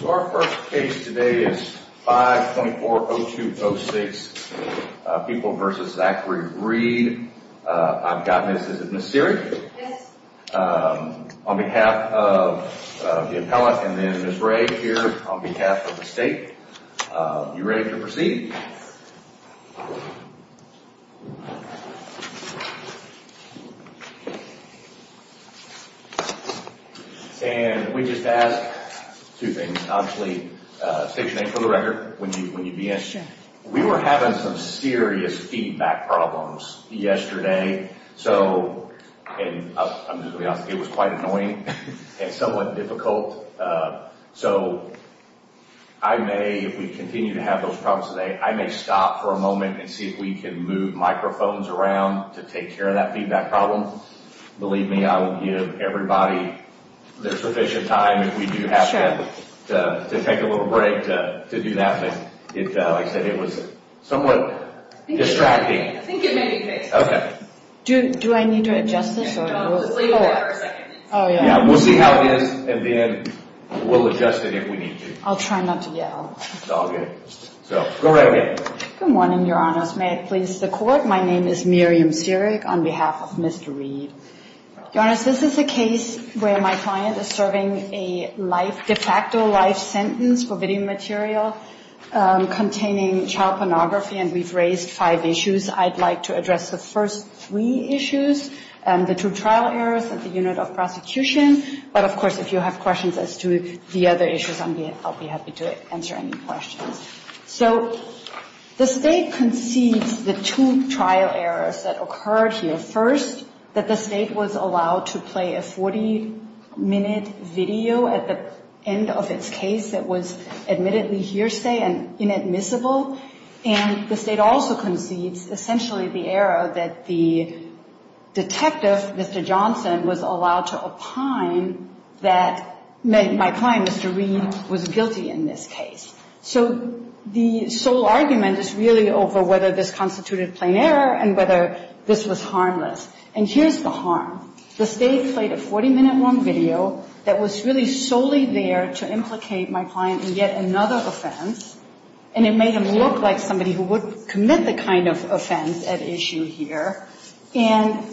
So our first case today is 524-0206, People v. Zachary Reed. I've got Ms. Seary on behalf of the appellate and then Ms. Ray here on behalf of the state. You ready to proceed? And we just ask two things. Obviously, state your name for the record when you begin. We were having some serious feedback problems yesterday. So, and I'm just going to be honest, it was quite annoying and somewhat difficult. So I may, if we continue to have those problems today, I may stop for a moment and see if we can move microphones around to take care of that feedback problem. Believe me, I will give everybody their sufficient time if we do have to take a little break to do that. But like I said, it was somewhat distracting. I think it may be fixed. Do I need to adjust this? We'll see how it is and then we'll adjust it if we need to. I'll try not to yell. It's all good. Go right ahead. Good morning, Your Honors. May it please the Court. My name is Miriam Seary on behalf of Mr. Reed. Your Honors, this is a case where my client is serving a life, de facto life sentence for video material containing child pornography. And we've raised five issues. I'd like to address the first three issues, the two trial errors and the unit of prosecution. But of course, if you have questions as to the other issues, I'll be happy to answer any questions. So the State concedes the two trial errors that occurred here. First, that the State was allowed to play a 40-minute video at the end of its case that was admittedly hearsay and inadmissible. And the State also concedes essentially the error that the detective, Mr. Johnson, was allowed to opine that my client, Mr. Reed, was guilty in this case. So the sole argument is really over whether this constituted plain error and whether this was harmless. And here's the harm. The State played a 40-minute long video that was really solely there to implicate my client in yet another offense. And it made him look like somebody who would commit the kind of offense at issue here. And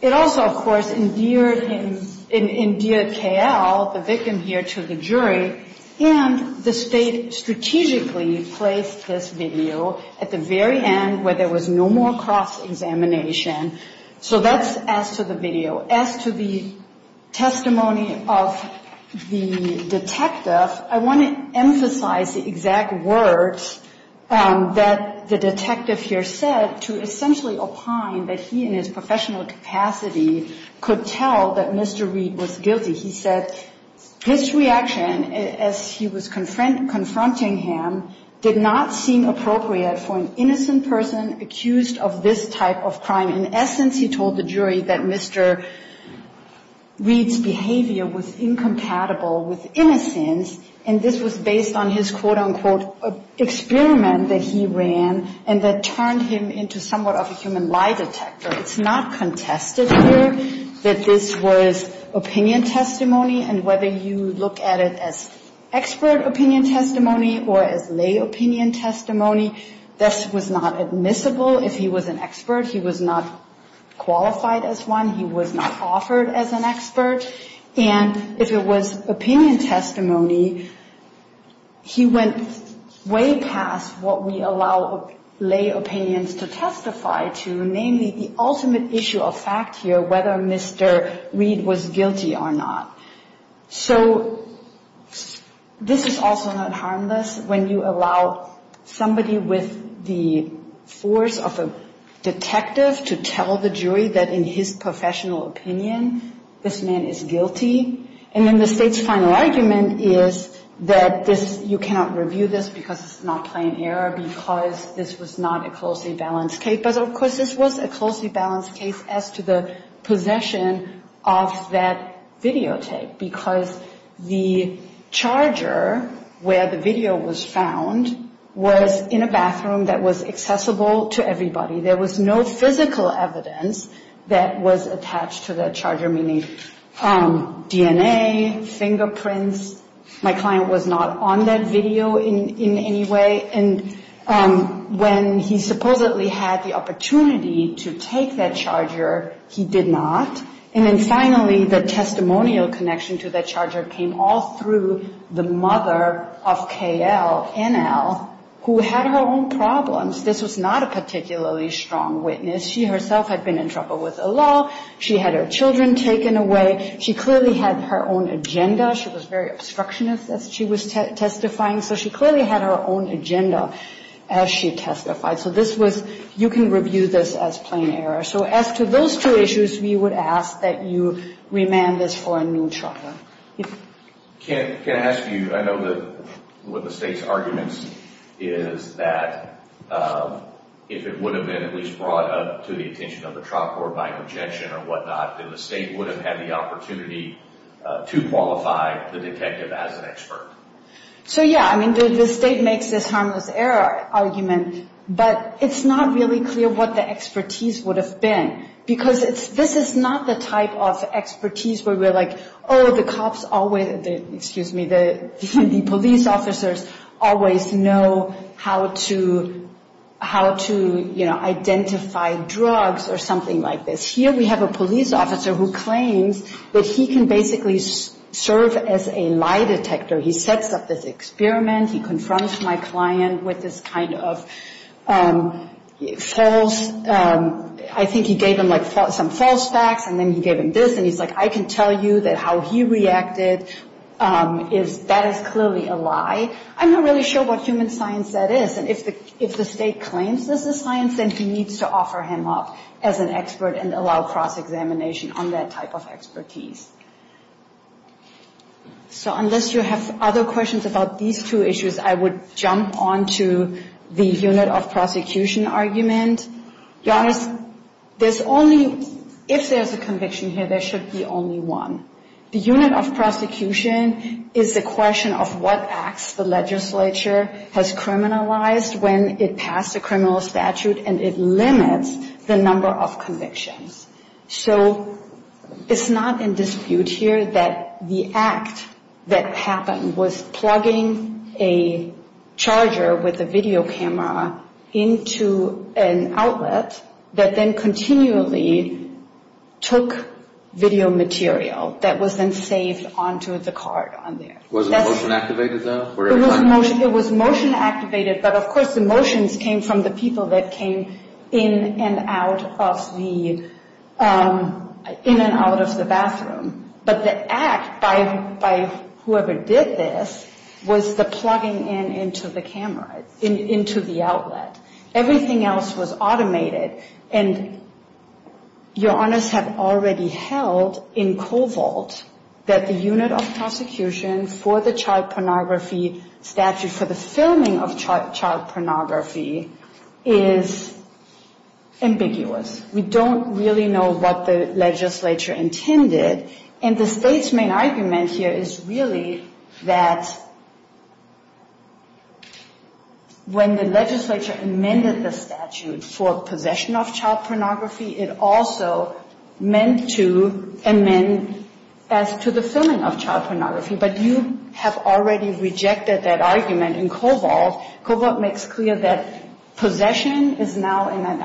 it also, of course, endeared him, endeared K.L., the victim here, to the jury. And the State strategically placed this video at the very end where there was no more cross-examination. So that's as to the video. As to the testimony of the detective, I want to emphasize the exact words that the detective here said to essentially opine that he, in his professional capacity, could tell that Mr. Reed was guilty. He said, his reaction as he was confronting him did not seem appropriate for an innocent person accused of this type of crime. In essence, he told the jury that Mr. Reed's behavior was incompatible with innocence. And this was based on his, quote, unquote, experiment that he ran and that turned him into somewhat of a human lie detector. It's not contested here that this was opinion testimony. And whether you look at it as expert opinion testimony or as lay opinion testimony, this was not admissible. If he was an expert, he was not qualified as one. He was not offered as an expert. And if it was opinion testimony, he went way past what we allow lay opinions to testify to, namely, the ultimate issue of fact here, whether Mr. Reed was guilty or not. So this is also not harmless when you allow somebody with the force of a detective to tell the jury that in his professional opinion, this man is guilty. And then the state's final argument is that this, you cannot review this because it's not plain error, because this was not a closely balanced case. But of course, this was a closely balanced case because of the suppression of that videotape, because the charger where the video was found was in a bathroom that was accessible to everybody. There was no physical evidence that was attached to the charger, meaning DNA, fingerprints. My client was not on that video in any way. And when he supposedly had the opportunity to take that charger, he did not. And then finally, the testimonial connection to that charger came all through the mother of K.L., N.L., who had her own problems. This was not a particularly strong witness. She herself had been in trouble with the law. She had her children taken away. She clearly had her own agenda. She was very obstructionist, as she was testifying. So she clearly had her own agenda as she testified. So this was, you can review this as plain error. So as to those two issues, we would ask that you remand this for a new trial. Can I ask you, I know that one of the state's arguments is that if it would have been at least brought up to the attention of the trial court by objection or whatnot, then the state would have had the opportunity to qualify the detective as an expert. So yeah, I mean, the state makes this harmless error argument, but it's not really clear what the expertise would have been. Because this is not the type of expertise where we're like, oh, the cops always, excuse me, the police officers always know how to, you know, identify drugs or something like this. Here we have a police officer who claims that he can basically serve as a lie detector. He sets up this experiment. He confronts my client with this kind of false, I think he gave him like some false facts, and then he gave him this, and he's like, I can tell you that how he reacted is that is clearly a lie. I'm not really sure what human science that is. And if the state claims this is science, then he needs to offer him up as an expert and allow cross-examination on that type of expertise. So unless you have other questions about these two issues, I would jump on to the unit of prosecution argument. Yannis, there's only, if there's a conviction here, there should be only one. The unit of prosecution is the question of what acts the legislature has criminalized when it passed a criminal statute and it limits the number of convictions. So it's not in dispute here that the act that happened was plugging a charger with a video camera into an outlet that then continually took video material that was then saved onto the card on there. Was it motion activated though? It was motion activated, but of course the motions came from the people that came in and out of the bathroom. But the act by whoever did this was the plugging in into the camera, into the outlet. Everything else was automated. And your honors have already held in Covalt that the unit of prosecution for the child pornography statute for the filming of child pornography is ambiguous. We don't really know what the legislature intended. And the state's main argument here is really that when the legislature amended the statute for possession of child pornography, it also meant to amend as to the filming of child pornography. But you have already rejected that argument in Covalt. Covalt makes clear that possession is now, and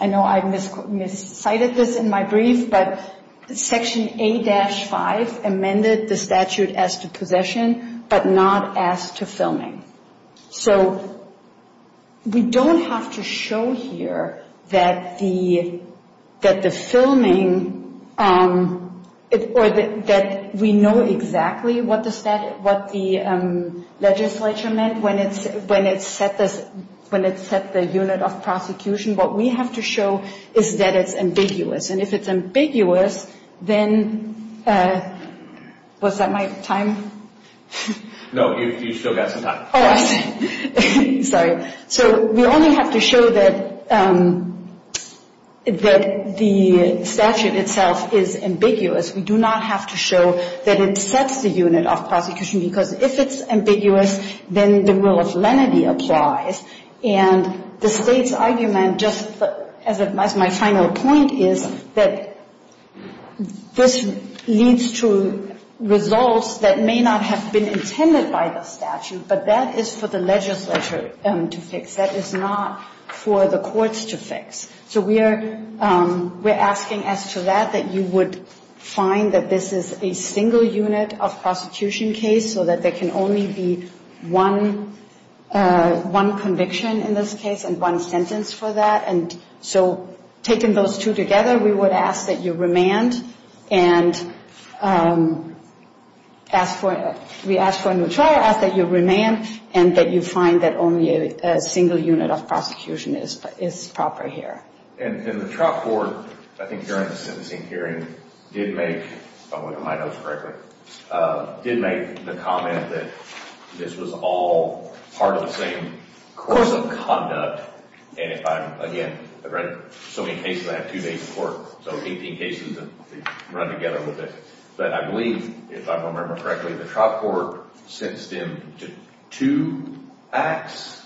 I know I miscited this in my brief, but Section A-5 amended the statute as to possession but not as to filming. So we don't have to show here that the filming, or that we know exactly what the legislature meant when it set the unit of prosecution. What we have to show is that it's ambiguous. And if it's ambiguous, then, was that my time? No, you've still got some time. Sorry. So we only have to show that the statute itself is ambiguous. We do not have to show that it sets the unit of prosecution because if it's ambiguous, then the rule of lenity applies. And the state's argument, just as my final point is, that this leads to results that may not have been intended by the statute, but that is for the legislature to fix. That is not for the courts to fix. So we are asking as to that, that you would find that this is a single unit of prosecution case so that there can only be one conviction in this case and one sentence for that. And so taking those two together, we would ask that you remand and ask for, we ask for a new trial, ask that you remand and that you find that only a single unit of prosecution is proper here. And the trial court, I think during the sentencing hearing, did make, if I'm looking at my notes correctly, did make the comment that this was all part of the same course of conduct. And if I'm, again, I've read so many cases, I have two days in court, so 18 cases that run together with this. But I believe, if I remember correctly, the trial court sentenced him to two acts.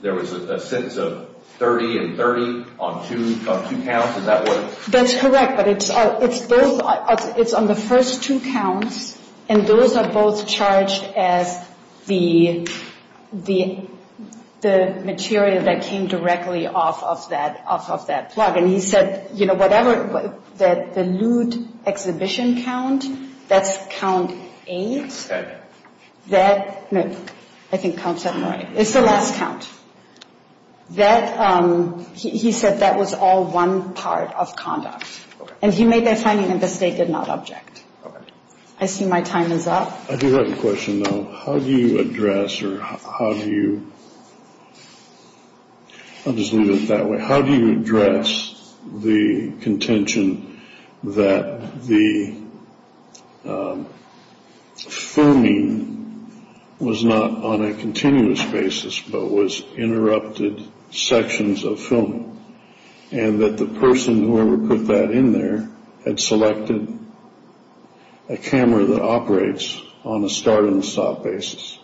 There was a sentence of 30 and 30 on two counts, is that what? That's correct, but it's on the first two counts, and those are both charged as the material that came directly off of that plug. And he said, you know, whatever, the lewd exhibition count, that's count eight. That, no, I think count seven, right. It's the last count. That, he said that was all one part of conduct. And he made that finding and the state did not object. I see my time is up. I do have a question, though. How do you address, or how do you, I'll just leave it that way. How do you address the contention that the filming was not on a continuous basis, but was interrupted sections of filming? And that the person, whoever put that in there, had selected a camera that operates on a start and stop basis.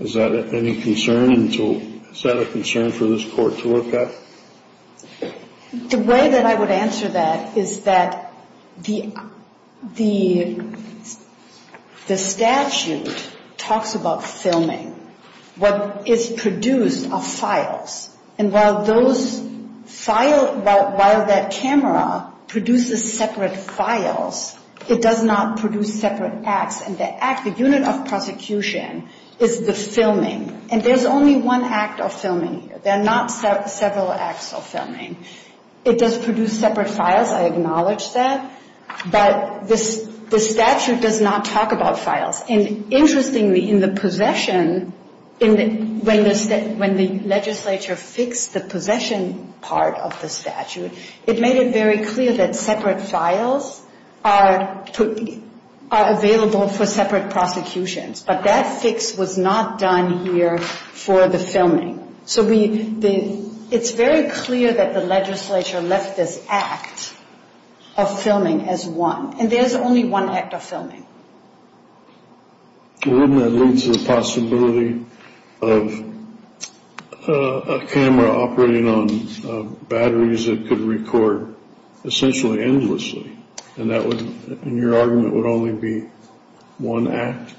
Is that any concern? Is that a concern for this court to look at? The way that I would answer that is that the statute talks about filming. What is produced are files. And while those files, while that camera produces separate files, it does not produce separate acts. And the act, the unit of prosecution is the filming. And there's only one act of filming here. There are not several acts of filming. It does produce separate files. I acknowledge that. But the statute does not talk about files. And interestingly, in the possession, when the legislature fixed the possession part of the statute, it made it very clear that separate files are available for separate prosecutions. But that fix was not done here for the filming. So it's very clear that the legislature left this act of filming as one. And there's only one act of filming. Wouldn't that lead to the possibility of a camera operating on batteries that could record essentially endlessly? And that would, in your argument, would only be one act?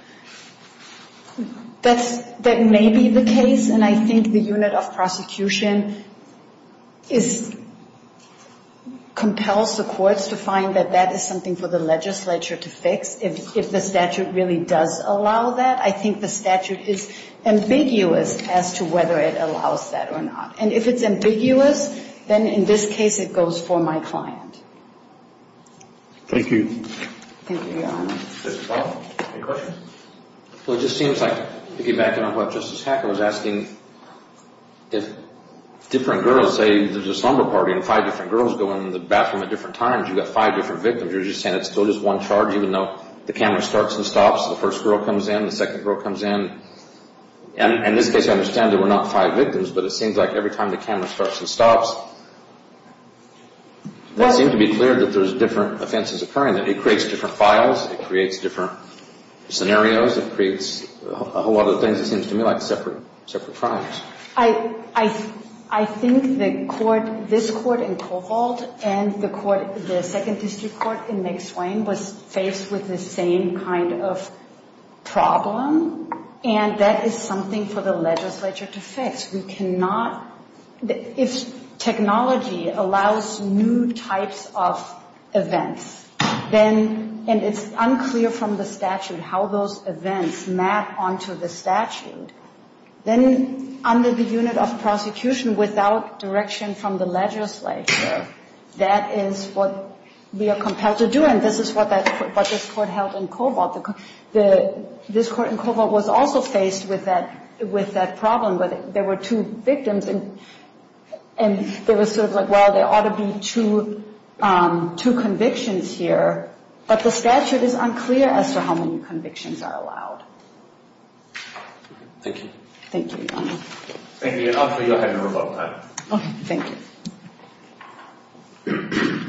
That may be the case. And I think the unit of prosecution compels the courts to find that that is something for the legislature to fix. If the statute really does allow that, I think the statute is ambiguous as to whether it allows that or not. And if it's ambiguous, then in this case it goes for my client. Thank you. Thank you, Your Honor. Mr. Powell, any questions? Well, it just seems like, piggybacking on what Justice Hacker was asking, if different girls say there's a slumber party and five different girls go in the bathroom at different times, you've got five different victims, you're just saying it's still just one charge, even though the camera starts and stops, the first girl comes in, the second girl comes in. And in this case, I understand there were not five victims, but it seems like every time the camera starts and stops, it does seem to be clear that there's different offenses occurring, that it creates different files, it creates different scenarios, it creates a whole lot of things, it seems to me, like separate crimes. I think the court, this court in Covalt and the court, the second district court in McSwain, was faced with the same kind of problem, and that is something for the legislature to fix. If technology allows new types of events, and it's unclear from the statute how those events map onto the statute, then under the unit of prosecution, without direction from the legislature, that is what we are compelled to do, and this is what this court held in Covalt. This court in Covalt was also faced with that problem, where there were two victims, and there was sort of like, well, there ought to be two convictions here, but the statute is unclear as to how many convictions are allowed. Thank you. Thank you, Your Honor. Thank you, Your Honor. You have your rebuttal time. Okay, thank you. Thank you.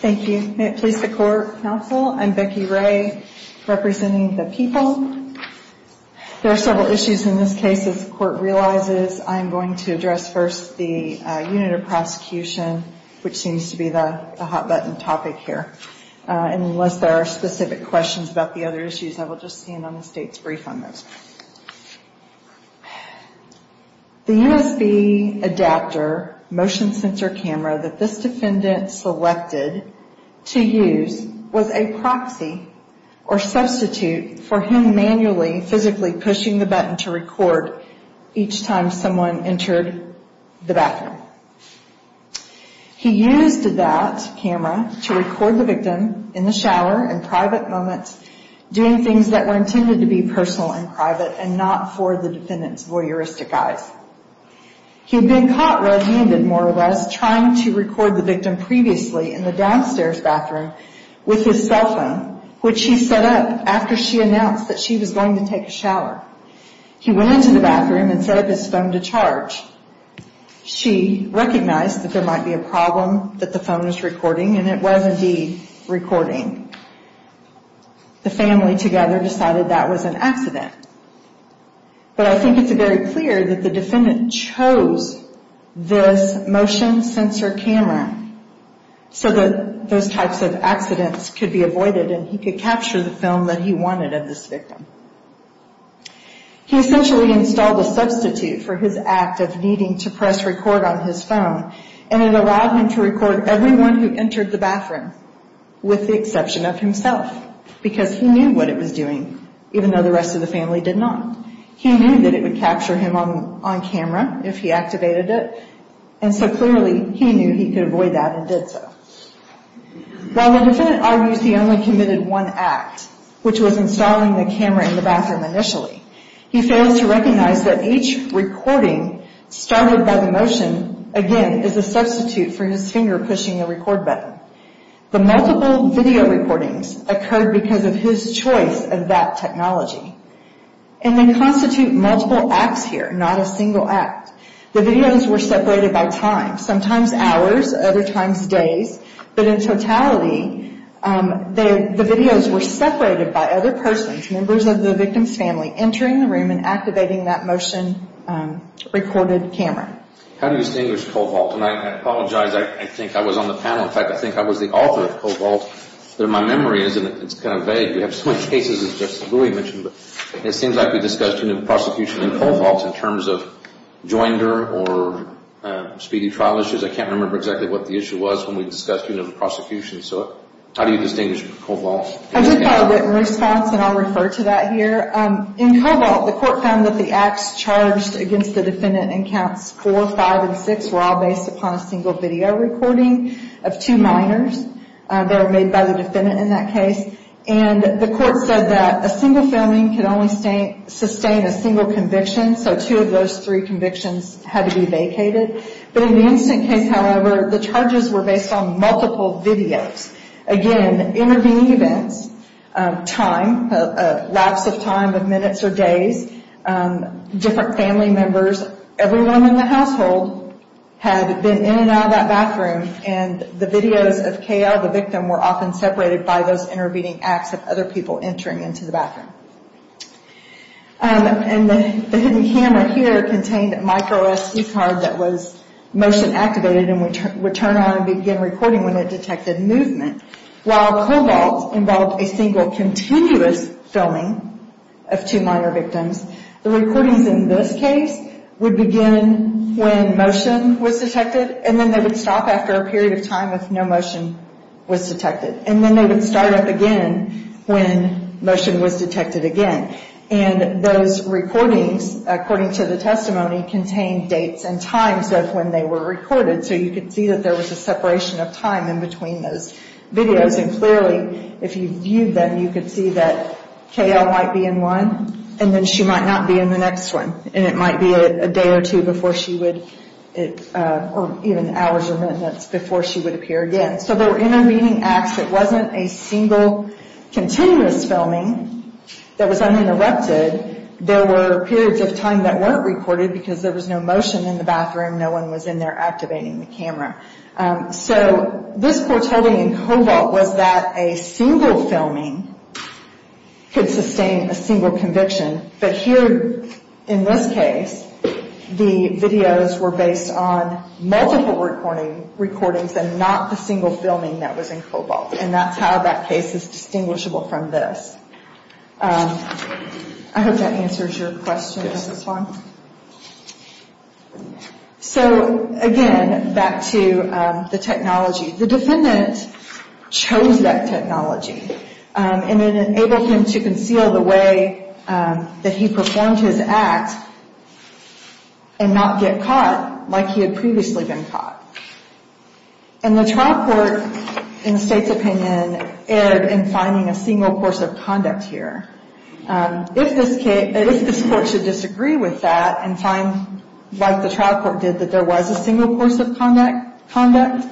Thank you. May it please the court, counsel, I'm Becky Ray, representing the people. There are several issues in this case. As the court realizes, I am going to address first the unit of prosecution, which seems to be the hot-button topic here. Unless there are specific questions about the other issues, I will just stand on the state's brief on those. The USB adapter motion sensor camera that this defendant selected to use was a proxy or substitute for him manually, physically pushing the button to record each time someone entered the bathroom. He used that camera to record the victim in the shower in private moments, doing things that were intended to be personal and private and not for the defendant's voyeuristic eyes. He had been caught red-handed, more or less, trying to record the victim previously in the downstairs bathroom with his cell phone, which he set up after she announced that she was going to take a shower. He went into the bathroom and set up his phone to charge. She recognized that there might be a problem that the phone was recording, and it was indeed recording. The family together decided that was an accident. But I think it's very clear that the defendant chose this motion sensor camera so that those types of accidents could be avoided and he could capture the film that he wanted of this victim. He essentially installed a substitute for his act of needing to press record on his phone, and it allowed him to record everyone who entered the bathroom, with the exception of himself, because he knew what it was doing, even though the rest of the family did not. He knew that it would capture him on camera if he activated it, and so clearly he knew he could avoid that and did so. While the defendant argues he only committed one act, which was installing the camera in the bathroom initially, he fails to recognize that each recording started by the motion, again, is a substitute for his finger pushing the record button. The multiple video recordings occurred because of his choice of that technology, and they constitute multiple acts here, not a single act. The videos were separated by time, sometimes hours, other times days, but in totality the videos were separated by other persons, members of the victim's family, entering the room and activating that motion recorded camera. How do you distinguish Cobalt? And I apologize, I think I was on the panel, in fact I think I was the author of Cobalt. My memory is, and it's kind of vague, we have so many cases as just Louie mentioned, but it seems like we discussed unit of prosecution in Cobalt in terms of joinder or speedy trial issues. I can't remember exactly what the issue was when we discussed unit of prosecution, so how do you distinguish Cobalt? I did have a written response, and I'll refer to that here. In Cobalt, the court found that the acts charged against the defendant in counts 4, 5, and 6 were all based upon a single video recording of two minors. They were made by the defendant in that case, and the court said that a single filming can only sustain a single conviction, so two of those three convictions had to be vacated. But in the instant case, however, the charges were based on multiple videos. Again, intervening events, time, lapse of time of minutes or days, different family members, everyone in the household had been in and out of that bathroom, and the videos of KL, the victim, were often separated by those intervening acts of other people entering into the bathroom. The hidden camera here contained a micro SD card that was motion activated and would turn on and begin recording when it detected movement. While Cobalt involved a single continuous filming of two minor victims, the recordings in this case would begin when motion was detected, and then they would stop after a period of time if no motion was detected, and then they would start up again when motion was detected again. And those recordings, according to the testimony, contained dates and times of when they were recorded, so you could see that there was a separation of time in between those videos, and clearly, if you viewed them, you could see that KL might be in one, and then she might not be in the next one, and it might be a day or two before she would, or even hours or minutes before she would appear again. So there were intervening acts. It wasn't a single continuous filming that was uninterrupted. There were periods of time that weren't recorded because there was no motion in the bathroom. No one was in there activating the camera. So this quarteting in Cobalt was that a single filming could sustain a single conviction, but here, in this case, the videos were based on multiple recordings and not the single filming that was in Cobalt, and that's how that case is distinguishable from this. I hope that answers your question. So, again, back to the technology. The defendant chose that technology, and it enabled him to conceal the way that he performed his act and not get caught like he had previously been caught. And the trial court, in the State's opinion, erred in finding a single course of conduct here. If this court should disagree with that and find, like the trial court did, that there was a single course of conduct,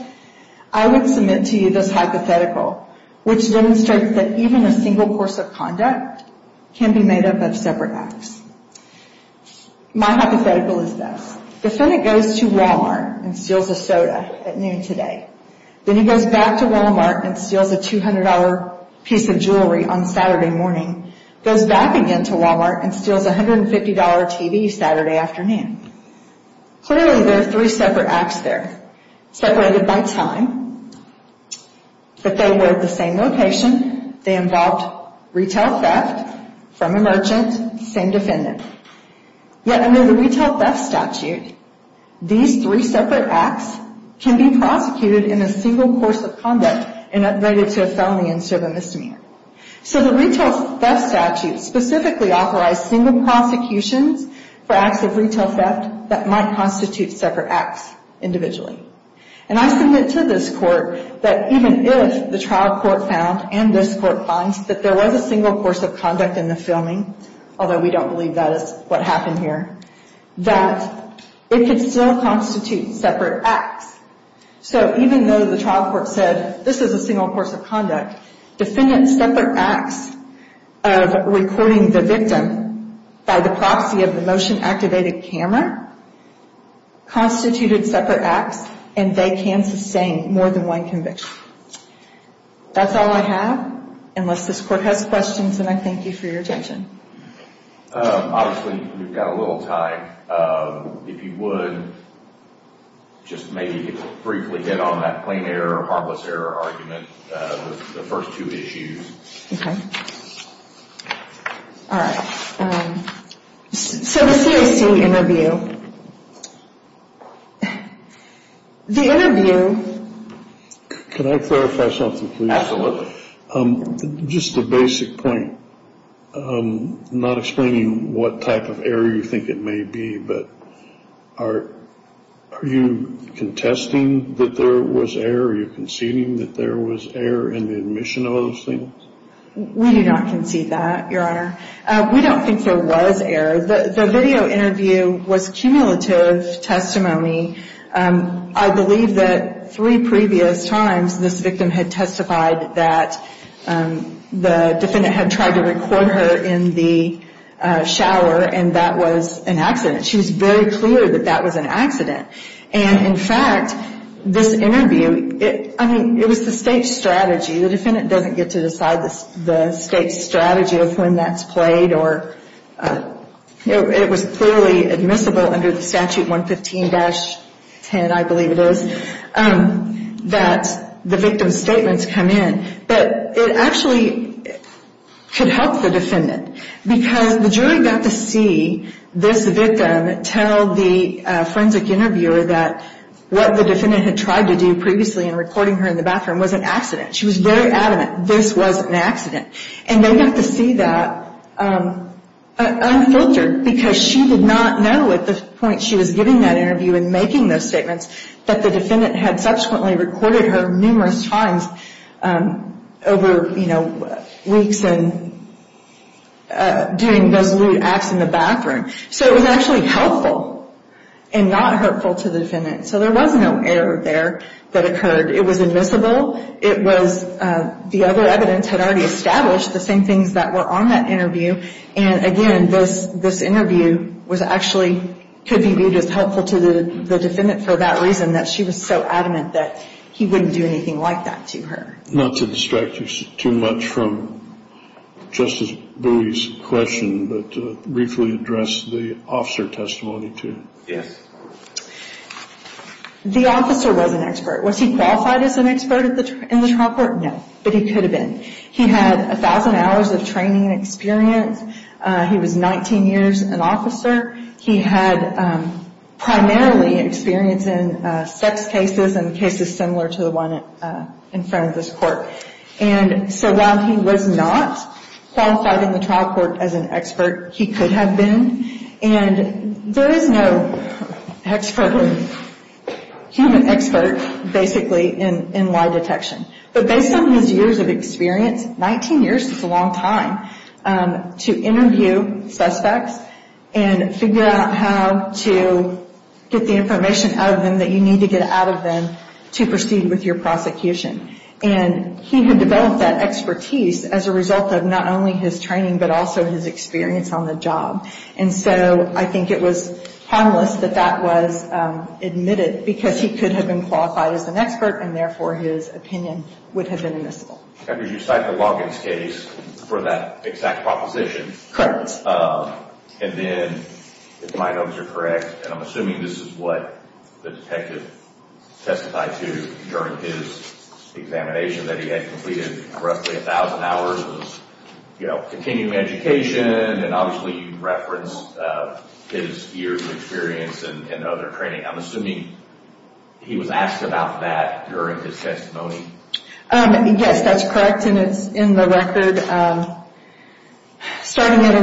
I would submit to you this hypothetical, which demonstrates that even a single course of conduct can be made up of separate acts. My hypothetical is this. The defendant goes to Walmart and steals a soda at noon today. Then he goes back to Walmart and steals a $200 piece of jewelry on Saturday morning, goes back again to Walmart and steals a $150 TV Saturday afternoon. Clearly, there are three separate acts there, separated by time, but they were at the same location. They involved retail theft from a merchant, same defendant. Yet, under the retail theft statute, these three separate acts can be prosecuted in a single course of conduct and upgraded to a felony instead of a misdemeanor. So the retail theft statute specifically authorized single prosecutions for acts of retail theft that might constitute separate acts individually. And I submit to this court that even if the trial court found, and this court finds, that there was a single course of conduct in the filming, although we don't believe that is what happened here, that it could still constitute separate acts. So even though the trial court said, this is a single course of conduct, defendants' separate acts of recording the victim by the proxy of the motion-activated camera constituted separate acts, and they can sustain more than one conviction. That's all I have, unless this court has questions, and I thank you for your attention. Obviously, we've got a little time. If you would, just maybe briefly hit on that plain error, harmless error argument, the first two issues. All right. So the CAC interview. The interview... Can I clarify something, please? Absolutely. Just a basic point. I'm not explaining what type of error you think it may be, but are you contesting that there was error? Are you conceding that there was error in the admission of those things? We do not concede that, Your Honor. We don't think there was error. The video interview was cumulative testimony. I believe that three previous times this victim had testified that the defendant had tried to record her in the shower, and that was an accident. She was very clear that that was an accident, and in fact, this interview, I mean, it was the State's strategy. The defendant doesn't get to decide the State's strategy of when that's played, or it was clearly admissible under the Statute 115-10, I believe it is, that the victim's statements come in, but it actually could help the defendant, because the jury got to see this victim tell the forensic interviewer that what the defendant had tried to do previously in recording her in the bathroom was an accident. She was very adamant this was an accident, and they got to see that unfiltered, because she did not know at the point she was giving that interview and making those statements that the defendant had subsequently recorded her numerous times over weeks and doing those lewd acts in the bathroom. So it was actually helpful and not hurtful to the defendant. So there was no error there that occurred. It was admissible. It was, the other evidence had already established the same things that were on that interview, and again, this interview was actually, could be viewed as helpful to the defendant for that reason, that she was so adamant that he wouldn't do anything like that to her. Not to distract you too much from Justice Bowie's question, but briefly address the officer testimony, too. The officer was an expert. Was he qualified as an expert in the trial court? No. But he could have been. He had 1,000 hours of training and experience. He was 19 years an officer. He had primarily experience in sex cases and cases similar to the one in front of this court. And so while he was not qualified in the trial court as an expert, he could have been. And there is no expert, human expert, basically, in lie detection. But based on his years of experience, 19 years is a long time, to interview suspects and figure out how to get the information out of them that you need to get out of them to proceed with your prosecution. And he had developed that expertise as a result of not only his training, but also his experience on the job. And so I think it was harmless that that was admitted because he could have been qualified as an expert and therefore his opinion would have been admissible. And did you cite the Loggins case for that exact proposition? Correct. And then if my notes are correct, and I'm assuming this is what the detective testified to during his examination that he had completed roughly 1,000 hours of continuing education and obviously referenced his years of experience and other training. I'm assuming he was asked about that during his testimony. Yes, that's correct, and it's in the record. Starting at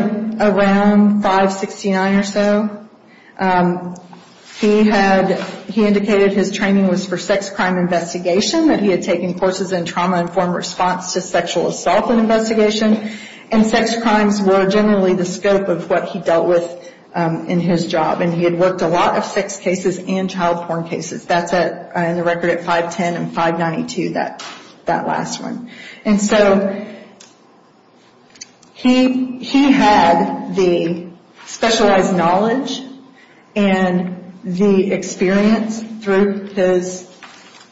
around 5-69 or so, he indicated his training was for sex crime investigation, that he had taken courses in trauma-informed response to sexual assault investigation, and sex crimes were generally the scope of what he dealt with in his job. And he had worked a lot of sex cases and child porn cases. That's in the record at 5-10 and 5-92, that last one. And so he had the specialized knowledge and the experience through his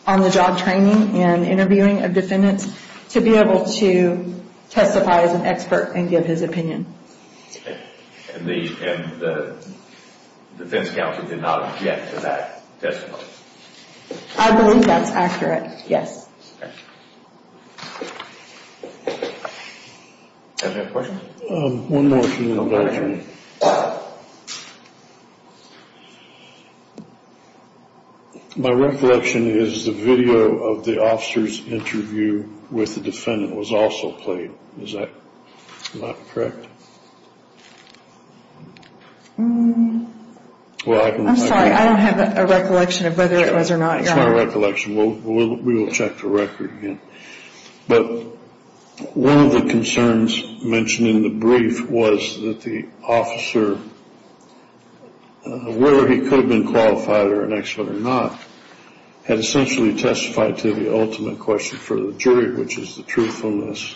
on-the-job training and interviewing of defendants to be able to testify as an expert and give his opinion. And the defense counsel did not object to that testimony? I believe that's accurate, yes. Okay. Does anybody have a question? One more thing. My recollection is the video of the officer's interview with the defendant was also played. Is that correct? I'm sorry, I don't have a recollection of whether it was or not. That's my recollection. We will check the record again. But one of the concerns mentioned in the brief was that the officer, whether he could have been qualified or an expert or not, had essentially testified to the ultimate question for the jury, which is the truthfulness,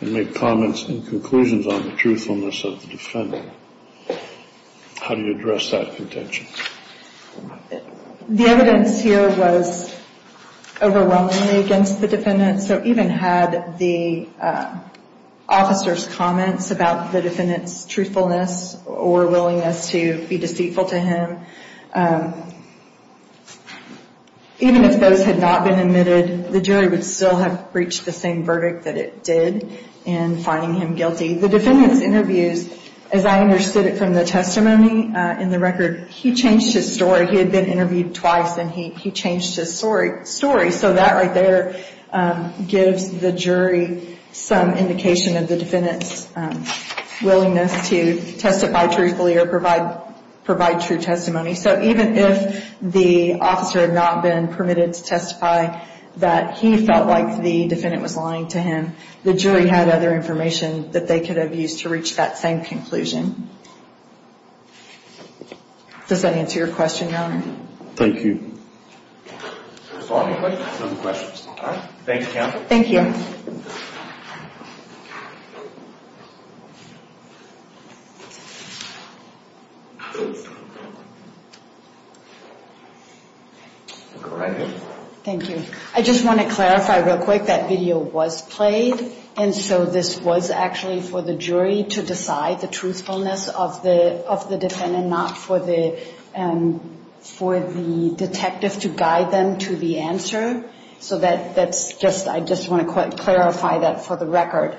and made comments and conclusions on the truthfulness of the defendant. How do you address that contention? The evidence here was overwhelmingly against the defendant, so even had the officer's comments about the defendant's truthfulness or willingness to be deceitful to him, even if those had not been admitted, the jury would still have reached the same verdict that it did in finding him guilty. The defendant's interviews, as I understood it from the testimony in the record, he changed his story. He had been interviewed twice, and he changed his story. So that right there gives the jury some indication of the defendant's willingness to testify truthfully or provide true testimony. So even if the officer had not been permitted to testify that he felt like the defendant was lying to him, the jury had other information that they could have used to reach that same conclusion. Does that answer your question, Your Honor? Thank you. Are there any questions? No questions. All right. Thank you, counsel. Thank you. Thank you. I just want to clarify real quick that video was played, and so this was actually for the jury to decide the truthfulness of the defendant, not for the detective to guide them to the answer. So I just want to clarify that for the record.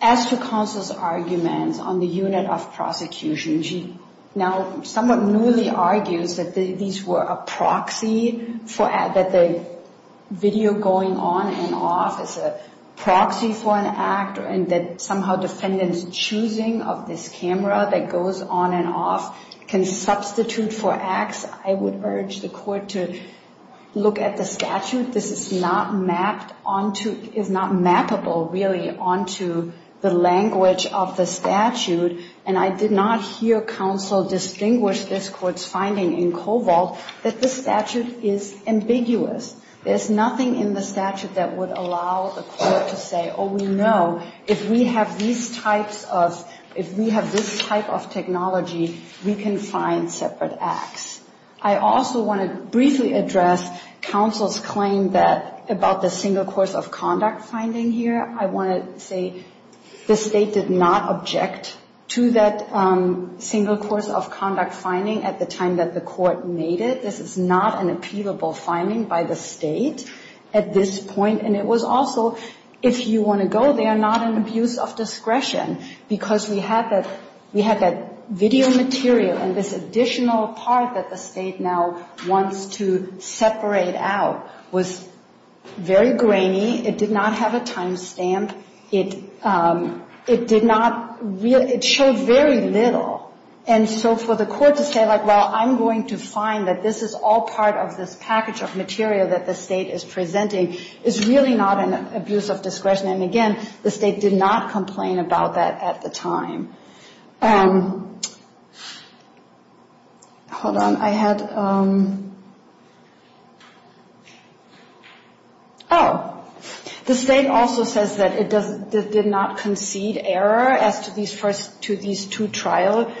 As to counsel's arguments on the unit of prosecution, now someone newly argues that these were a proxy, that the video going on and off is a proxy for an act, and that somehow defendant's choosing of this camera that goes on and off can substitute for acts. I would urge the court to look at the statute. This is not mapped onto ñ is not mappable, really, onto the language of the statute, and I did not hear counsel distinguish this court's finding in Kovalt that the statute is ambiguous. There's nothing in the statute that would allow the court to say, oh, we know if we have these types of ñ if we have this type of technology, we can find separate acts. I also want to briefly address counsel's claim about the single course of conduct finding here. I want to say the State did not object to that single course of conduct finding at the time that the court made it. This is not an appealable finding by the State at this point, and it was also, if you want to go there, not an abuse of discretion, because we had that video material, and this additional part that the State now wants to separate out was very grainy. It did not have a time stamp. It did not ñ it showed very little, and so for the court to say, like, well, I'm going to find that this is all part of this package of material that the State is presenting is really not an abuse of discretion, and again, the State did not complain about that at the time. Hold on. I had ñ oh. The State also says that it did not concede error as to these two trial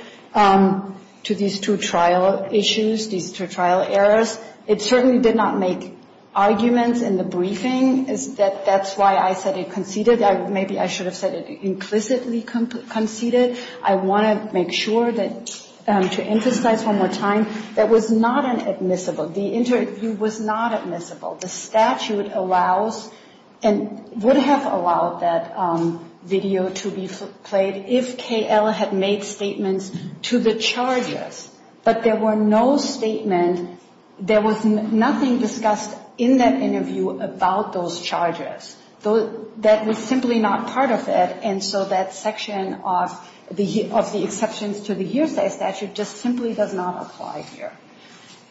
issues, these two trial errors. It certainly did not make arguments in the briefing. That's why I said it conceded. Maybe I should have said it implicitly conceded. I want to make sure that ñ to emphasize one more time, that was not an admissible ñ the interview was not admissible. The statute allows and would have allowed that video to be played if KL had made statements to the charges, but there were no statement ñ there was nothing discussed in that interview about those charges. That was simply not part of it, and so that section of the exceptions to the hearsay statute just simply does not apply here.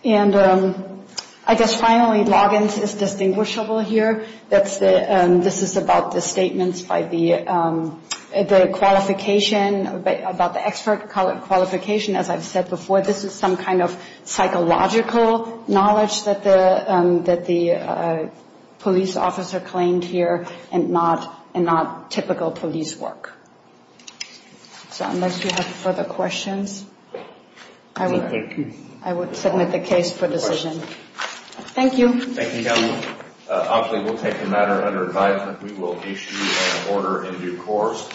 And I guess finally, logins is distinguishable here. That's the ñ this is about the statements by the ñ the qualification about the expert qualification, as I've said before. But this is some kind of psychological knowledge that the ñ that the police officer claimed here and not ñ and not typical police work. So unless you have further questions, I would ñ I would submit the case for decision. Thank you. Thank you, Counselor. Obviously, we'll take the matter under advisement. We will issue an order in due course.